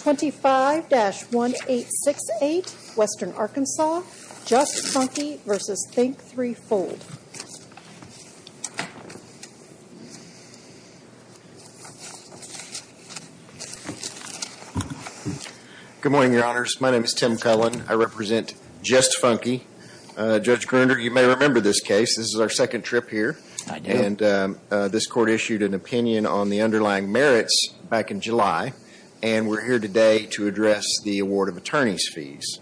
25-1868 Western Arkansas Just Funky v. Think 3 Fold Good morning, your honors. My name is Tim Cullen. I represent Just Funky. Judge Gruner, you may remember this case. This is our second trip here. I do. And this court issued an opinion on the underlying merits back in July, and we're here today to address the award of attorney's fees.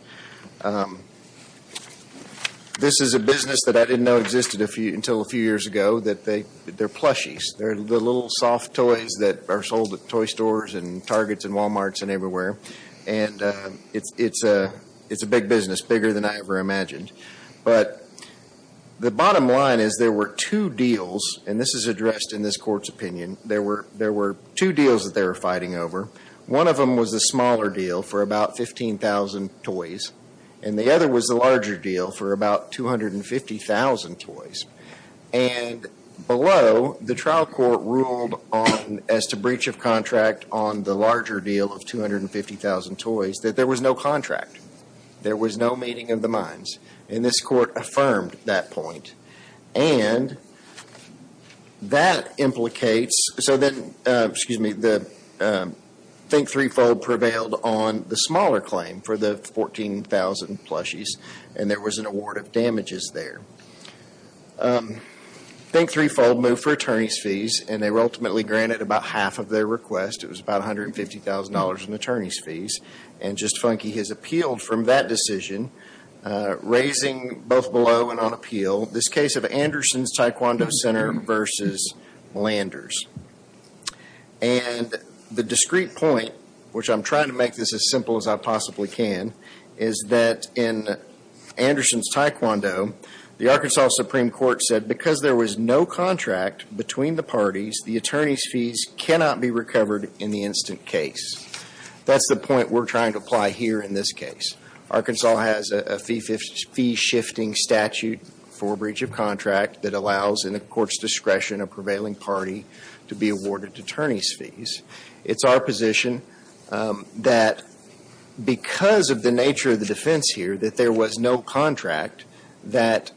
This is a business that I didn't know existed until a few years ago, that they're plushies. They're the little soft toys that are sold at toy stores and Targets and Walmarts and everywhere, and it's a big business, bigger than I ever imagined. But the bottom line is there were two deals, and this is addressed in this court's opinion, there were two deals that they were fighting over. One of them was a smaller deal for about 15,000 toys, and the other was the larger deal for about 250,000 toys. And below, the trial court ruled as to breach of contract on the larger deal of 250,000 toys that there was no contract. There was no meeting of the minds, and this court affirmed that point. And that implicates, so then, excuse me, the Think Threefold prevailed on the smaller claim for the 14,000 plushies, and there was an award of damages there. Think Threefold moved for attorney's fees, and they were ultimately granted about half of their request. It was about $150,000 in attorney's fees. And just funky, he's appealed from that decision, raising both below and on appeal this case of Anderson's Taekwondo Center versus Lander's. And the discrete point, which I'm trying to make this as simple as I possibly can, is that in Anderson's Taekwondo, the Arkansas Supreme Court said, because there was no contract between the parties, the attorney's fees cannot be recovered in the instant case. That's the point we're trying to apply here in this case. Arkansas has a fee-shifting statute for breach of contract that allows, in the court's discretion, a prevailing party to be awarded attorney's fees. It's our position that because of the nature of the defense here, that there was no contract that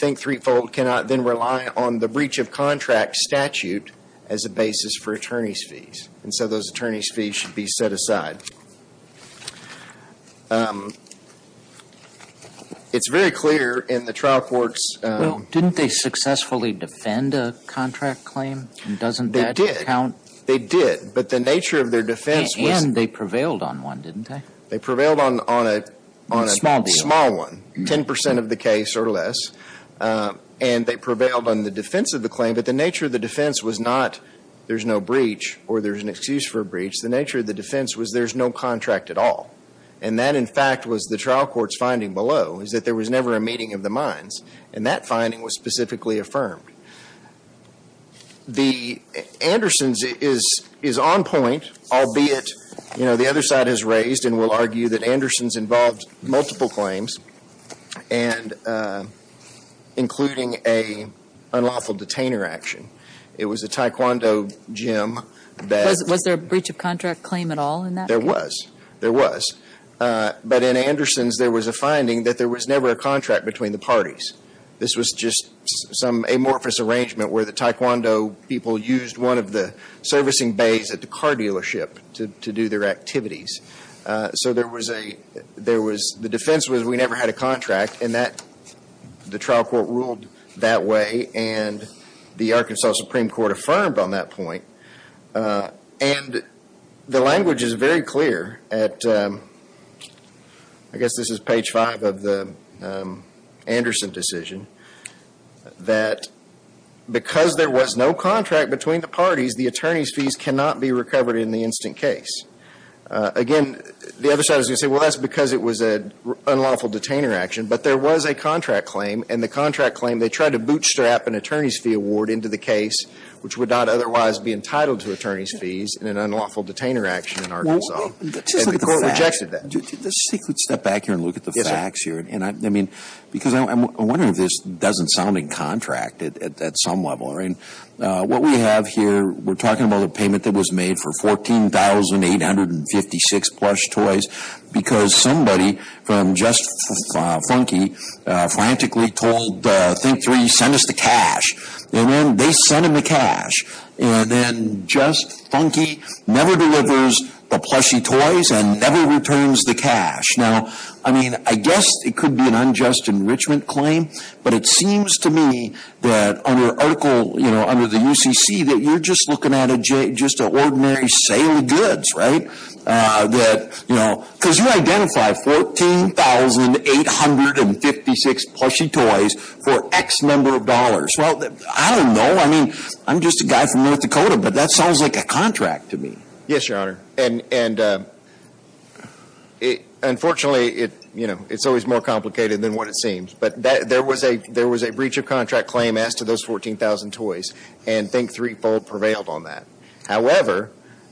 Think Threefold cannot then rely on the breach of contract statute as a basis for attorney's fees. And so those attorney's fees should be set aside. It's very clear in the trial court's ‑‑ Well, didn't they successfully defend a contract claim? Doesn't that count? They did. But the nature of their defense was ‑‑ And they prevailed on one, didn't they? They prevailed on a small one, 10 percent of the case or less. And they prevailed on the defense of the claim. But the nature of the defense was not there's no breach or there's an excuse for a breach. The nature of the defense was there's no contract at all. And that, in fact, was the trial court's finding below, is that there was never a meeting of the minds. And that finding was specifically affirmed. The Andersons is on point, albeit, you know, the other side has raised and will argue that Andersons involved multiple claims and including an unlawful detainer action. It was a Taekwondo gym that ‑‑ Was there a breach of contract claim at all in that case? There was. There was. But in Andersons, there was a finding that there was never a contract between the parties. This was just some amorphous arrangement where the Taekwondo people used one of the servicing bays at the car dealership to do their activities. So there was a, there was, the defense was we never had a contract. And that, the trial court ruled that way. And the Arkansas Supreme Court affirmed on that point. And the language is very clear at, I guess this is page five of the Anderson decision, that because there was no contract between the parties, the attorney's fees cannot be recovered in the instant case. Again, the other side is going to say, well, that's because it was an unlawful detainer action. But there was a contract claim. And the contract claim, they tried to bootstrap an attorney's fee award into the case, which would not otherwise be entitled to attorney's fees in an unlawful detainer action in Arkansas. And the court rejected that. Let's step back here and look at the facts here. And, I mean, because I'm wondering if this doesn't sound in contract at some level. I mean, what we have here, we're talking about the payment that was made for 14,856 plush toys because somebody from Just Funky frantically told Think Three, send us the cash. And then they sent them the cash. And then Just Funky never delivers the plushy toys and never returns the cash. Now, I mean, I guess it could be an unjust enrichment claim. But it seems to me that under article, you know, under the UCC, that you're just looking at just an ordinary sale of goods, right? That, you know, because you identify 14,856 plushy toys for X number of dollars. Well, I don't know. I mean, I'm just a guy from North Dakota. But that sounds like a contract to me. Yes, Your Honor. And, unfortunately, you know, it's always more complicated than what it seems. But there was a breach of contract claim as to those 14,000 toys. And Think Three prevailed on that. However,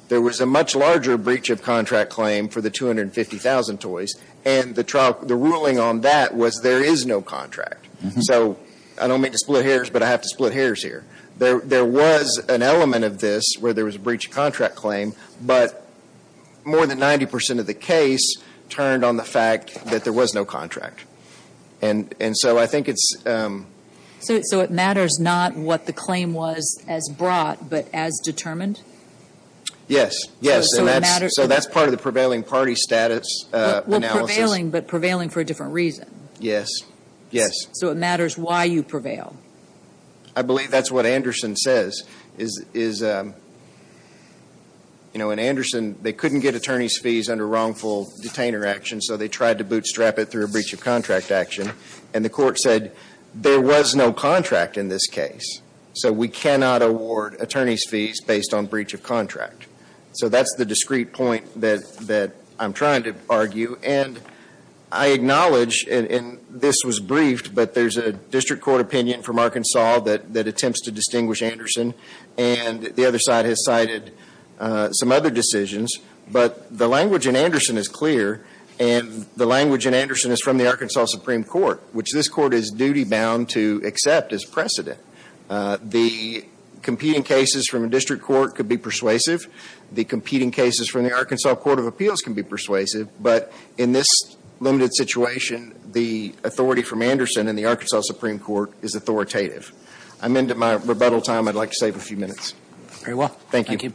there was a much larger breach of contract claim for the 250,000 toys. And the ruling on that was there is no contract. So I don't mean to split hairs, but I have to split hairs here. There was an element of this where there was a breach of contract claim. But more than 90% of the case turned on the fact that there was no contract. And so I think it's – So it matters not what the claim was as brought, but as determined? Yes. Yes. So it matters – So that's part of the prevailing party status analysis. Well, prevailing, but prevailing for a different reason. Yes. Yes. So it matters why you prevail. I believe that's what Anderson says, is, you know, in Anderson, they couldn't get attorney's fees under wrongful detainer action, so they tried to bootstrap it through a breach of contract action. And the court said there was no contract in this case. So we cannot award attorney's fees based on breach of contract. So that's the discrete point that I'm trying to argue. And I acknowledge, and this was briefed, but there's a district court opinion from Arkansas that attempts to distinguish Anderson. And the other side has cited some other decisions. But the language in Anderson is clear, and the language in Anderson is from the Arkansas Supreme Court, which this court is duty-bound to accept as precedent. The competing cases from a district court could be persuasive. The competing cases from the Arkansas Court of Appeals can be persuasive. But in this limited situation, the authority from Anderson and the Arkansas Supreme Court is authoritative. I'm into my rebuttal time. I'd like to save a few minutes. Very well. Thank you.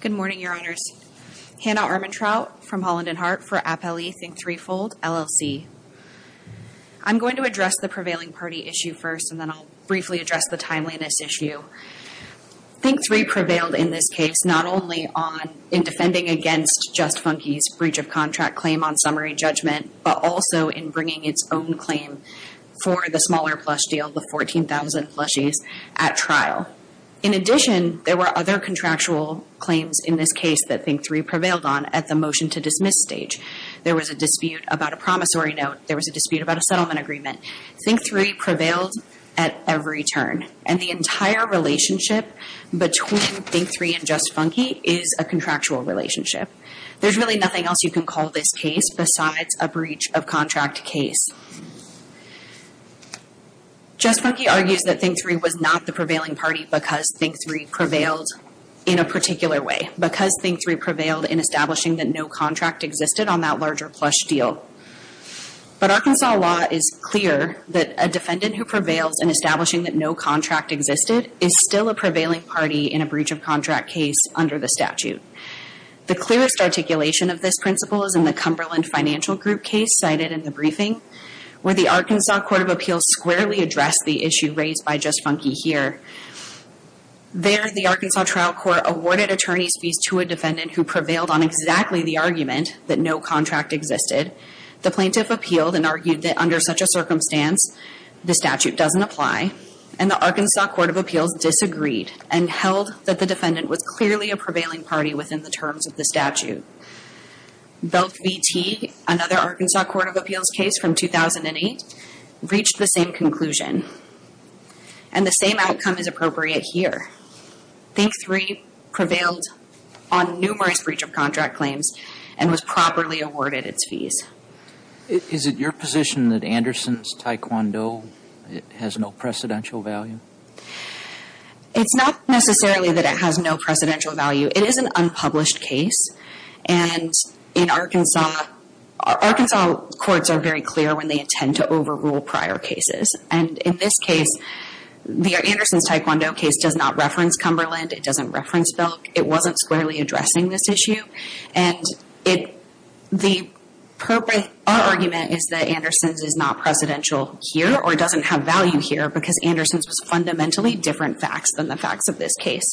Good morning, Your Honors. Hannah Armentrout from Holland and Hart for Appellee Think Threefold, LLC. I'm going to address the prevailing party issue first, and then I'll briefly address the timeliness issue. Think Three prevailed in this case, not only in defending against Just Funky's breach of contract claim on summary judgment, but also in bringing its own claim for the smaller plush deal, the 14,000 plushies, at trial. In addition, there were other contractual claims in this case that Think Three prevailed on at the motion-to-dismiss stage. There was a dispute about a promissory note. There was a dispute about a settlement agreement. Think Three prevailed at every turn, and the entire relationship between Think Three and Just Funky is a contractual relationship. There's really nothing else you can call this case besides a breach-of-contract case. Just Funky argues that Think Three was not the prevailing party because Think Three prevailed in a particular way, because Think Three prevailed in establishing that no contract existed on that larger plush deal. But Arkansas law is clear that a defendant who prevails in establishing that no contract existed is still a prevailing party in a breach-of-contract case under the statute. The clearest articulation of this principle is in the Cumberland Financial Group case cited in the briefing. Where the Arkansas Court of Appeals squarely addressed the issue raised by Just Funky here. There, the Arkansas trial court awarded attorney's fees to a defendant who prevailed on exactly the argument that no contract existed. The plaintiff appealed and argued that under such a circumstance, the statute doesn't apply. And the Arkansas Court of Appeals disagreed and held that the defendant was clearly a prevailing party within the terms of the statute. Belk v. Teague, another Arkansas Court of Appeals case from 2008, reached the same conclusion. And the same outcome is appropriate here. Think Three prevailed on numerous breach-of-contract claims and was properly awarded its fees. Is it your position that Anderson's taekwondo has no precedential value? It's not necessarily that it has no precedential value. It is an unpublished case. And in Arkansas, Arkansas courts are very clear when they intend to overrule prior cases. And in this case, the Anderson's taekwondo case does not reference Cumberland. It doesn't reference Belk. It wasn't squarely addressing this issue. And it, the purpose, our argument is that Anderson's is not precedential here or doesn't have value here because Anderson's was fundamentally different facts than the facts of this case.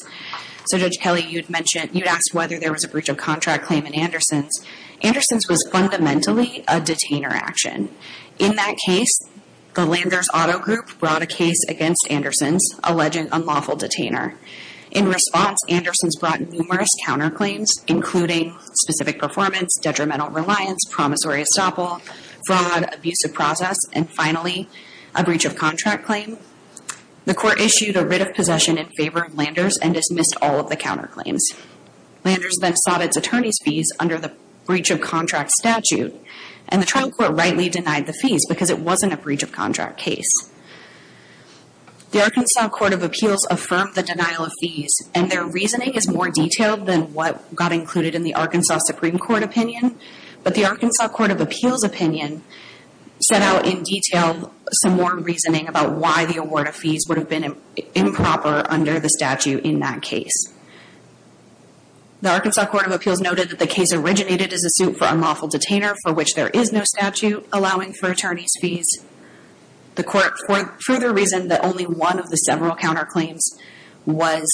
So Judge Kelly, you'd mentioned, you'd asked whether there was a breach-of-contract claim in Anderson's. Anderson's was fundamentally a detainer action. In that case, the Landers Auto Group brought a case against Anderson's, alleging unlawful detainer. In response, Anderson's brought numerous counterclaims, including specific performance, detrimental reliance, promissory estoppel, fraud, abusive process, and finally, a breach-of-contract claim. The court issued a writ of possession in favor of Landers and dismissed all of the counterclaims. Landers then sought its attorney's fees under the breach-of-contract statute. And the trial court rightly denied the fees because it wasn't a breach-of-contract case. The Arkansas Court of Appeals affirmed the denial of fees, and their reasoning is more detailed than what got included in the Arkansas Supreme Court opinion. But the Arkansas Court of Appeals opinion set out in detail some more reasoning about why the award of fees would have been improper under the statute in that case. The Arkansas Court of Appeals noted that the case originated as a suit for unlawful detainer, for which there is no statute allowing for attorney's fees. The court further reasoned that only one of the several counterclaims was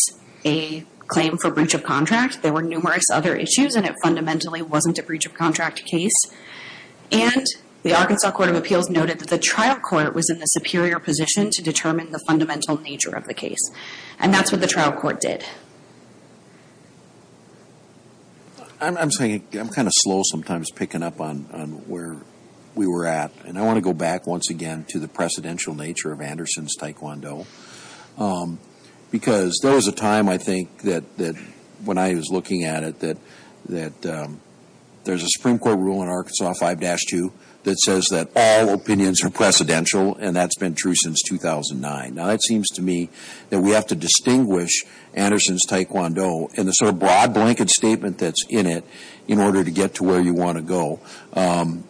a claim for breach-of-contract. There were numerous other issues, and it fundamentally wasn't a breach-of-contract case. And the Arkansas Court of Appeals noted that the trial court was in the superior position to determine the fundamental nature of the case. And that's what the trial court did. I'm saying I'm kind of slow sometimes picking up on where we were at. And I want to go back once again to the precedential nature of Anderson's taekwondo because there was a time, I think, that when I was looking at it, that there's a Supreme Court rule in Arkansas 5-2 that says that all opinions are precedential, and that's been true since 2009. Now, it seems to me that we have to distinguish Anderson's taekwondo and the sort of broad blanket statement that's in it in order to get to where you want to go.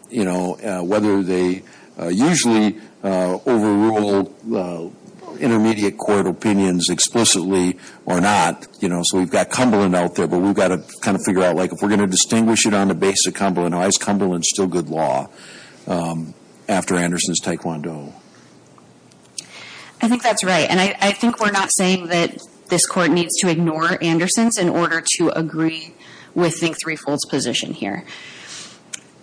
You know, whether they usually overrule intermediate court opinions explicitly or not, you know, so we've got Cumberland out there, but we've got to kind of figure out, like, if we're going to distinguish it on the basis of Cumberland, why is Cumberland still good law after Anderson's taekwondo? I think that's right. And I think we're not saying that this court needs to ignore Anderson's in order to agree with the three-folds position here.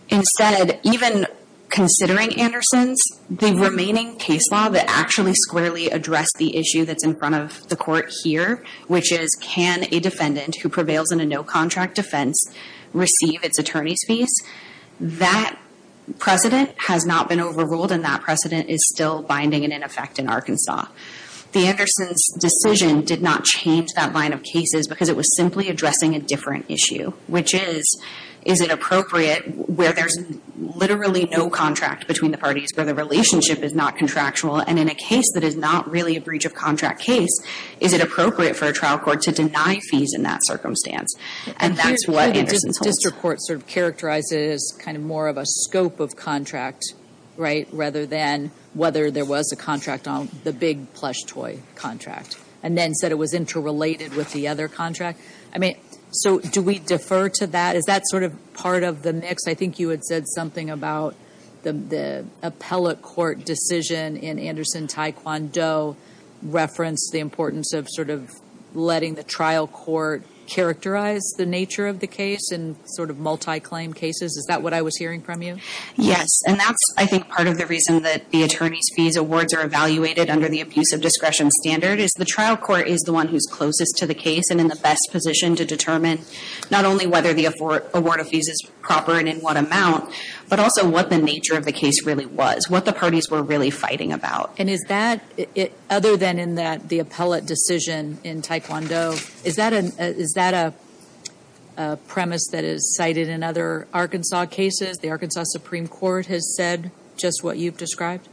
Instead, even considering Anderson's, the remaining case law that actually squarely addressed the issue that's in front of the court here, which is can a defendant who prevails in a no-contract defense receive its attorney's fees, that precedent has not been overruled, and that precedent is still binding and in effect in Arkansas. The Anderson's decision did not change that line of cases because it was simply addressing a different issue, which is, is it appropriate where there's literally no contract between the parties, where the relationship is not contractual, and in a case that is not really a breach of contract case, is it appropriate for a trial court to deny fees in that circumstance? And that's what Anderson's holds. Here's where the district court sort of characterizes kind of more of a scope of contract, right, and then said it was interrelated with the other contract. I mean, so do we defer to that? Is that sort of part of the mix? I think you had said something about the appellate court decision in Anderson-Tae Kwon Do referenced the importance of sort of letting the trial court characterize the nature of the case in sort of multi-claim cases. Is that what I was hearing from you? Yes, and that's, I think, part of the reason that the attorney's fees awards are evaluated under the abuse of discretion standard is the trial court is the one who's closest to the case and in the best position to determine not only whether the award of fees is proper and in what amount, but also what the nature of the case really was, what the parties were really fighting about. And is that, other than in the appellate decision in Tae Kwon Do, is that a premise that is cited in other Arkansas cases? The Arkansas Supreme Court has said just what you've described?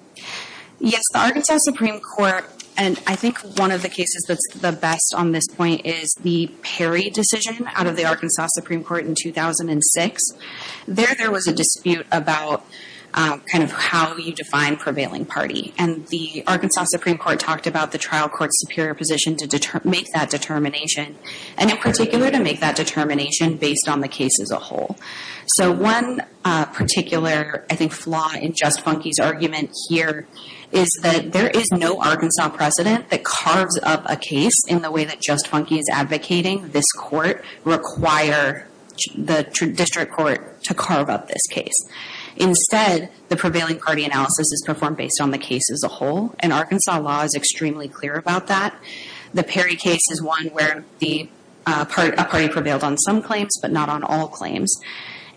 Yes, the Arkansas Supreme Court, and I think one of the cases that's the best on this point is the Perry decision out of the Arkansas Supreme Court in 2006. There, there was a dispute about kind of how you define prevailing party. And the Arkansas Supreme Court talked about the trial court's superior position to make that determination and, in particular, to make that determination based on the case as a whole. So one particular, I think, flaw in Just Funke's argument here is that there is no Arkansas precedent that carves up a case in the way that Just Funke is advocating this court require the district court to carve up this case. Instead, the prevailing party analysis is performed based on the case as a whole, and Arkansas law is extremely clear about that. The Perry case is one where the party prevailed on some claims, but not on all claims.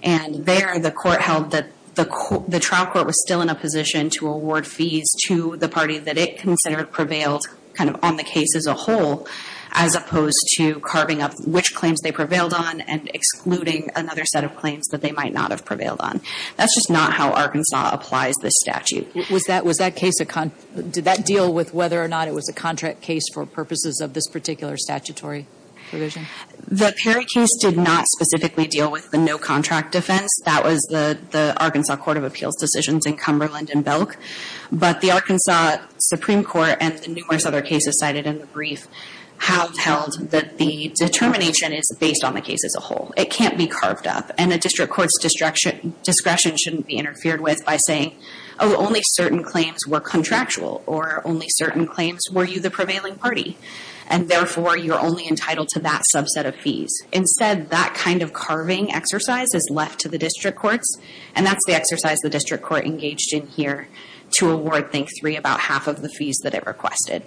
And there, the court held that the trial court was still in a position to award fees to the party that it considered prevailed kind of on the case as a whole, as opposed to carving up which claims they prevailed on and excluding another set of claims that they might not have prevailed on. That's just not how Arkansas applies this statute. Did that deal with whether or not it was a contract case for purposes of this particular statutory provision? The Perry case did not specifically deal with the no-contract defense. That was the Arkansas Court of Appeals decisions in Cumberland and Belk. But the Arkansas Supreme Court and the numerous other cases cited in the brief have held that the determination is based on the case as a whole. It can't be carved up, and the district court's discretion shouldn't be interfered with by saying, oh, only certain claims were contractual, or only certain claims were you the prevailing party. And therefore, you're only entitled to that subset of fees. Instead, that kind of carving exercise is left to the district courts, and that's the exercise the district court engaged in here to award Think-3 about half of the fees that it requested.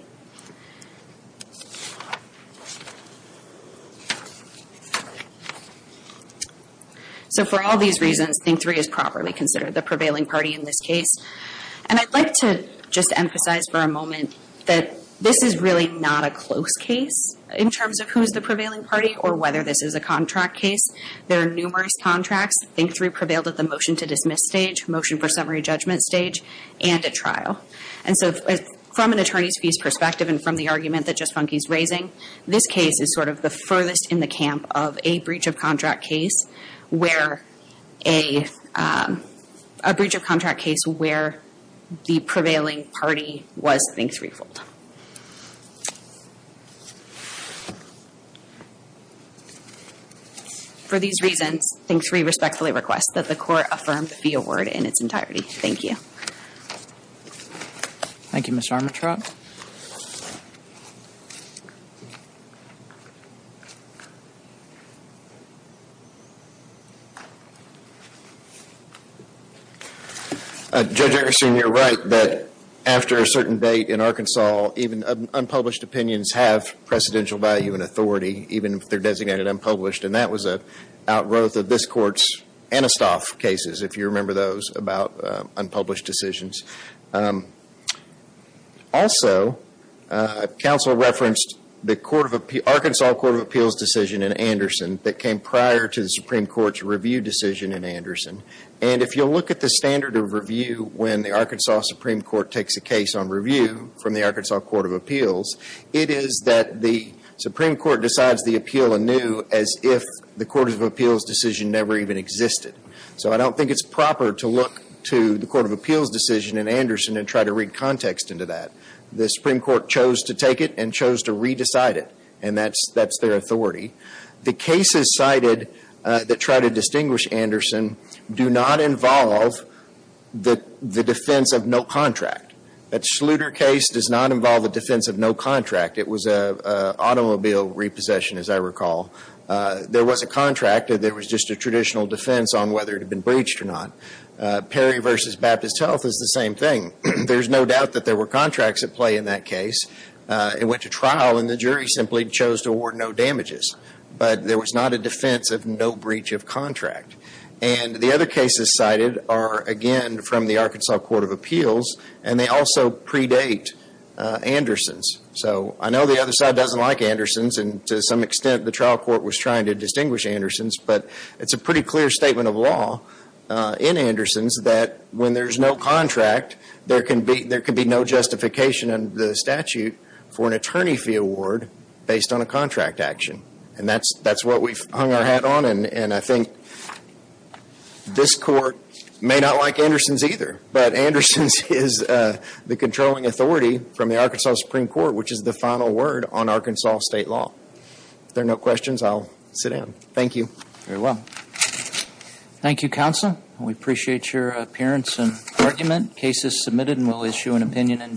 So for all these reasons, Think-3 is properly considered the prevailing party in this case. And I'd like to just emphasize for a moment that this is really not a close case in terms of who's the prevailing party or whether this is a contract case. There are numerous contracts. Think-3 prevailed at the motion to dismiss stage, motion for summary judgment stage, and at trial. And so from an attorney's fees perspective, and from the argument that Just Funke's raising, this case is sort of the furthest in the camp of a breach of contract case where a breach of contract case where the prevailing party was Think-3. For these reasons, Think-3 respectfully requests that the court affirm the fee award in its entirety. Thank you. Thank you, Mr. Armitroff. Judge Eggersen, you're right that after a certain date in Arkansas, even unpublished opinions have precedential value and authority, even if they're designated unpublished. And that was an outgrowth of this Court's Anistoff cases, if you remember those, about unpublished decisions. Also, counsel referenced the Arkansas Court of Appeals decision in Anderson that came prior to the Supreme Court's review decision in Anderson. And if you'll look at the standard of review when the Arkansas Supreme Court takes a case on review from the Arkansas Court of Appeals, it is that the Supreme Court decides the appeal anew as if the Court of Appeals decision never even existed. So I don't think it's proper to look to the Court of Appeals decision in Anderson and try to read context into that. The Supreme Court chose to take it and chose to re-decide it. And that's their authority. The cases cited that try to distinguish Anderson do not involve the defense of no contract. That Schluter case does not involve the defense of no contract. It was an automobile repossession, as I recall. There was a contract. There was just a traditional defense on whether it had been breached or not. Perry v. Baptist Health is the same thing. There's no doubt that there were contracts at play in that case. It went to trial, and the jury simply chose to award no damages. But there was not a defense of no breach of contract. And the other cases cited are, again, from the Arkansas Court of Appeals, and they also predate Anderson's. So I know the other side doesn't like Anderson's, and to some extent the trial court was trying to distinguish Anderson's, but it's a pretty clear statement of law in Anderson's that when there's no contract, there can be no justification in the statute for an attorney fee award based on a contract action. And that's what we've hung our hat on, and I think this Court may not like Anderson's either, but Anderson's is the controlling authority from the Arkansas Supreme Court, which is the final word on Arkansas state law. If there are no questions, I'll sit down. Thank you. Very well. Thank you, Counsel. We appreciate your appearance and argument. The case is submitted, and we'll issue an opinion in due course.